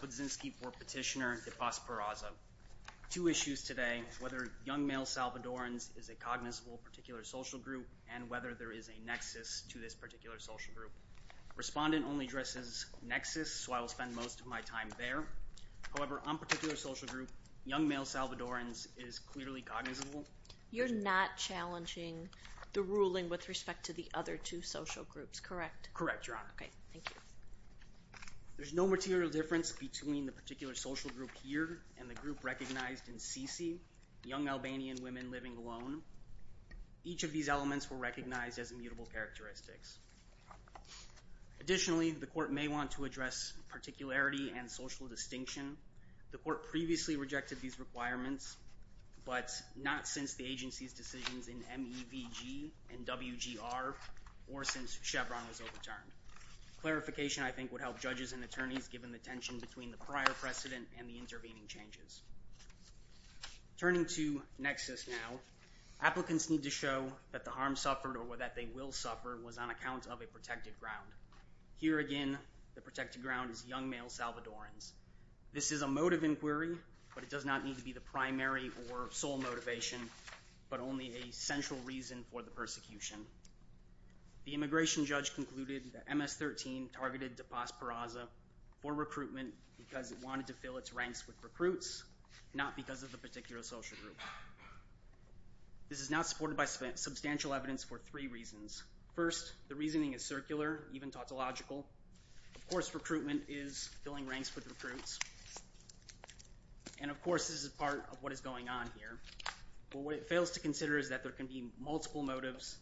Pudzinski for Petitioner de Paz-Peraza. Two issues today, whether young male Salvadorans is a cognizable particular social group and whether there is a nexus to this particular social group. Respondent only addresses nexus, so I will spend most of my time there. However, on particular social group, young male Salvadorans is clearly cognizable. You're not challenging the ruling with respect to the other two social groups, correct? Correct, Your Honor. Okay, thank you. There's no material difference between the particular social group here and the social group recognized in CC, young Albanian women living alone. Each of these elements were recognized as immutable characteristics. Additionally, the court may want to address particularity and social distinction. The court previously rejected these requirements, but not since the agency's decisions in MEVG and WGR or since Chevron was overturned. Clarification, I think, would help judges and attorneys given the tension between the prior precedent and the intervening changes. Turning to nexus now, applicants need to show that the harm suffered or that they will suffer was on account of a protected ground. Here again, the protected ground is young male Salvadorans. This is a motive inquiry, but it does not need to be the primary or sole motivation, but only a central reason for the persecution. The immigration judge concluded that MS-13 targeted de Paz-Peraza for recruitment because it wanted to fill its ranks with recruits, not because of the particular social group. This is now supported by substantial evidence for three reasons. First, the reasoning is circular, even tautological. Of course, recruitment is filling ranks with recruits, and of course, this is part of what is going on here, but what it fails to consider is that there can be multiple motives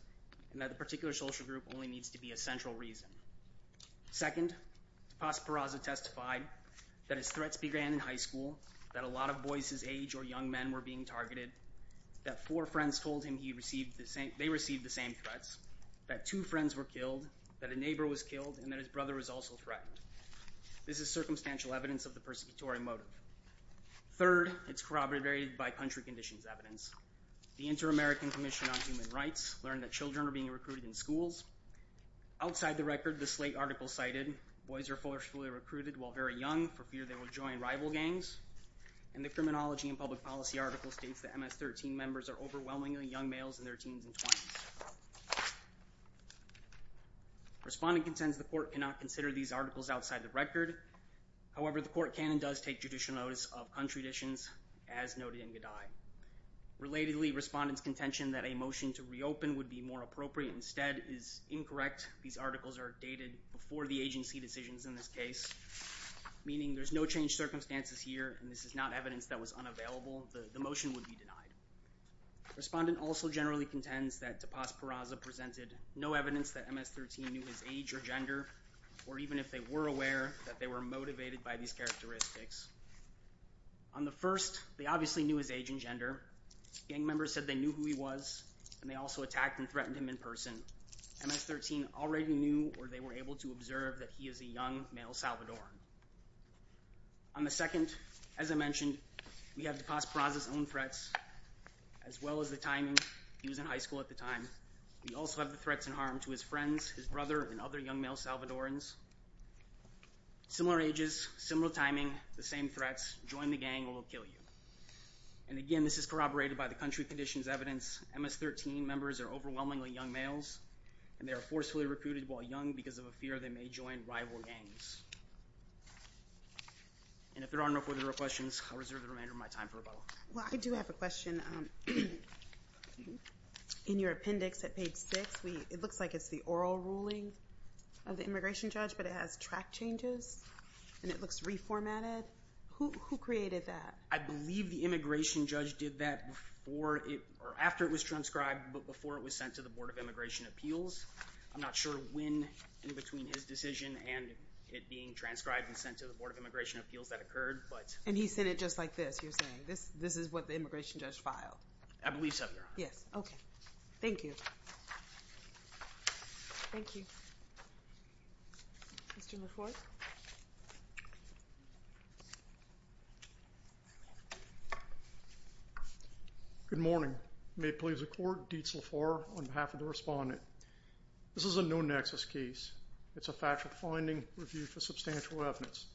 and that the particular social group only needs to be a central reason. Second, de Paz-Peraza testified that his threats began in high school, that a lot of boys his age or young men were being targeted, that four friends told him he received the same, they received the same threats, that two friends were killed, that a neighbor was killed, and that his brother was also threatened. This is circumstantial evidence of the persecutory motive. Third, it's corroborated by country conditions evidence. The Inter-American Commission on Human Rights learned that children are being recruited in schools. Outside the record, the Slate article cited, boys are forcefully recruited while very young for fear they will join rival gangs, and the Criminology and Public Policy article states that MS-13 members are overwhelmingly young males in their teens and twenties. Respondent contends the court cannot consider these articles outside the record. However, the court can and does take judicial notice of contraditions as noted in G'dai. Relatedly, respondents contention that a motion to reopen would be more appropriate instead is incorrect. These articles are dated before the agency decisions in this case, meaning there's no change circumstances here, and this is not evidence that was unavailable. The motion would be denied. Respondent also generally contends that Tapas Peraza presented no evidence that MS-13 knew his age or gender, or even if they were aware that they were motivated by these characteristics. On the first, they obviously knew his age and gender. Gang members said they knew who he was, and they also attacked and threatened him in person. MS-13 already knew, or they were able to observe, that he is a young male Salvadoran. On the second, as I mentioned, we have Tapas Peraza's own threats, as well as the timing. He was in high school at the time. We also have the threats and harm to his friends, his brother, and other young male Salvadorans. Similar ages, similar timing, the same threats, join the gang or we'll kill you. And again, this is corroborated by the two conditions evidence. MS-13 members are overwhelmingly young males, and they are forcefully recruited while young because of a fear they may join rival gangs. And if there are no further questions, I'll reserve the remainder of my time for a bubble. Well, I do have a question. In your appendix at page six, it looks like it's the oral ruling of the immigration judge, but it has track changes, and it looks reformatted. Who created that? I believe the immigration judge did that after it was transcribed, but before it was sent to the Board of Immigration Appeals. I'm not sure when in between his decision and it being transcribed and sent to the Board of Immigration Appeals that occurred, but... And he said it just like this, you're saying? This is what the immigration judge filed? I believe so, Your Honor. Yes, okay. Thank you. Good morning. May it please the Court, Dietz LaFleur on behalf of the respondent. This is a no-nexus case. It's a factual finding reviewed for substantial evidence.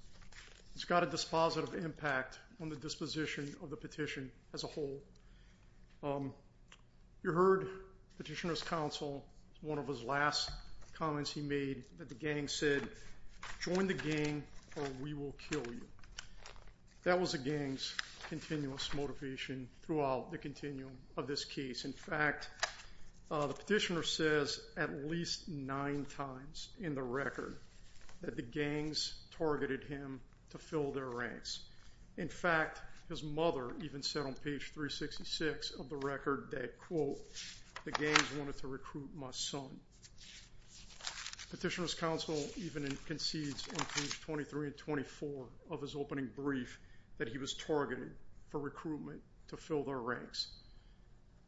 It's got a dispositive impact on the disposition of the petition as a whole. You heard Petitioner's Counsel, one of his last comments he made, that the gang said, join the gang or we will kill you. That was a gang's continuous motivation throughout the continuum of this case. In fact, the petitioner says at least nine times in the record that the gangs targeted him to fill their ranks. In fact, his mother even said on page 366 of the record that, quote, the gangs wanted to recruit my son. Petitioner's Counsel even concedes on page 23 and 24 of his opening brief that he was targeted for recruitment to fill their ranks.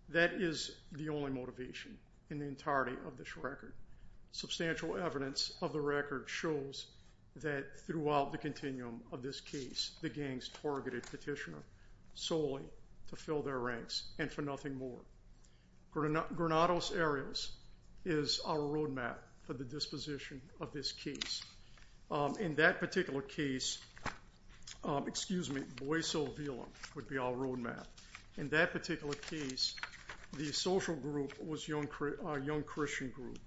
That is the only motivation in the entirety of this record. Substantial evidence of the record shows that throughout the continuum of this case, the gangs targeted Petitioner solely to fill their ranks and for nothing more. Granados Areas is our roadmap for the disposition of this case. In that particular case, excuse me, Boiso Vila would be our roadmap. In that particular case, the social group was a young Christian group.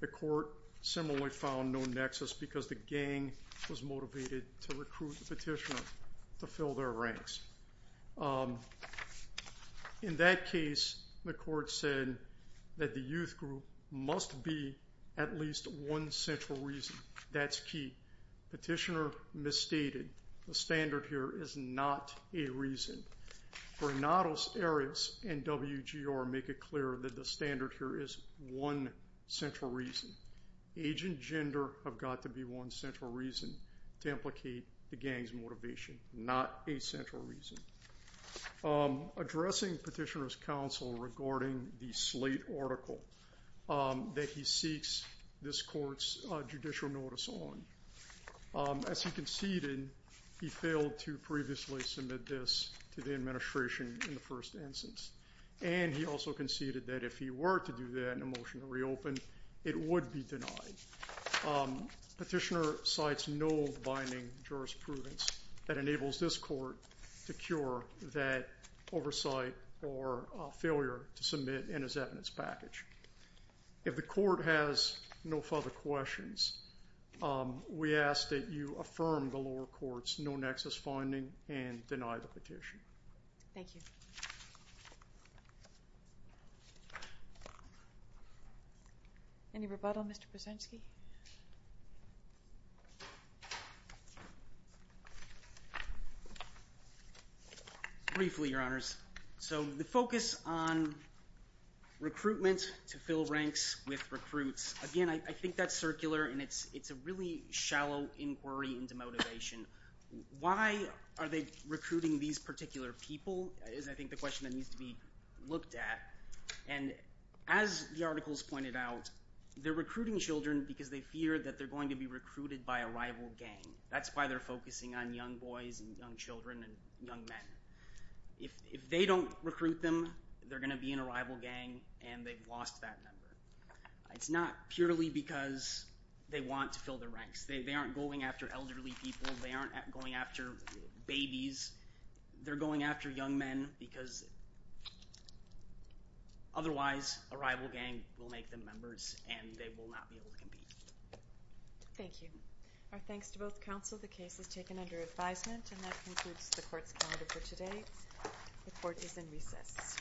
The court similarly found no nexus because the gang was motivated to recruit the petitioner to fill their ranks. In that case, the court said that the youth group must be at least one central reason. That's key. Petitioner misstated. The standard here is not a reason. Granados Areas and WGR make it clear that the standard here is one central reason. Age and gender have to be one central reason to implicate the gang's motivation, not a central reason. Addressing Petitioner's Counsel regarding the slate article that he seeks this court's judicial notice on. As he conceded, he failed to previously submit this to the administration in the first instance and he also conceded that if he were to do that in a motion to reopen, it would be denied. Petitioner cites no binding jurisprudence that enables this court to cure that oversight or failure to submit in his evidence package. If the court has no further questions, we ask that you affirm the lower court's no nexus finding and deny the petition. Any rebuttal, Mr. Brzezinski? Briefly, Your Honors. So the focus on recruitment to fill ranks with recruits. Again, I think that's circular and it's it's a really shallow inquiry into motivation. Why are they recruiting these particular people is, I think, the question that needs to be looked at. And as the articles pointed out, they're recruiting children because they fear that they're going to be recruited by a rival gang. That's why they're focusing on young boys and young children and young men. If they don't recruit them, they're gonna be in a rival gang and they've lost that member. It's not purely because they want to fill the ranks. They aren't going after babies. They're going after young men because otherwise a rival gang will make them members and they will not be able to compete. Thank you. Our thanks to both counsel. The case is taken under advisement and that concludes the court's calendar for today. The court is in recess.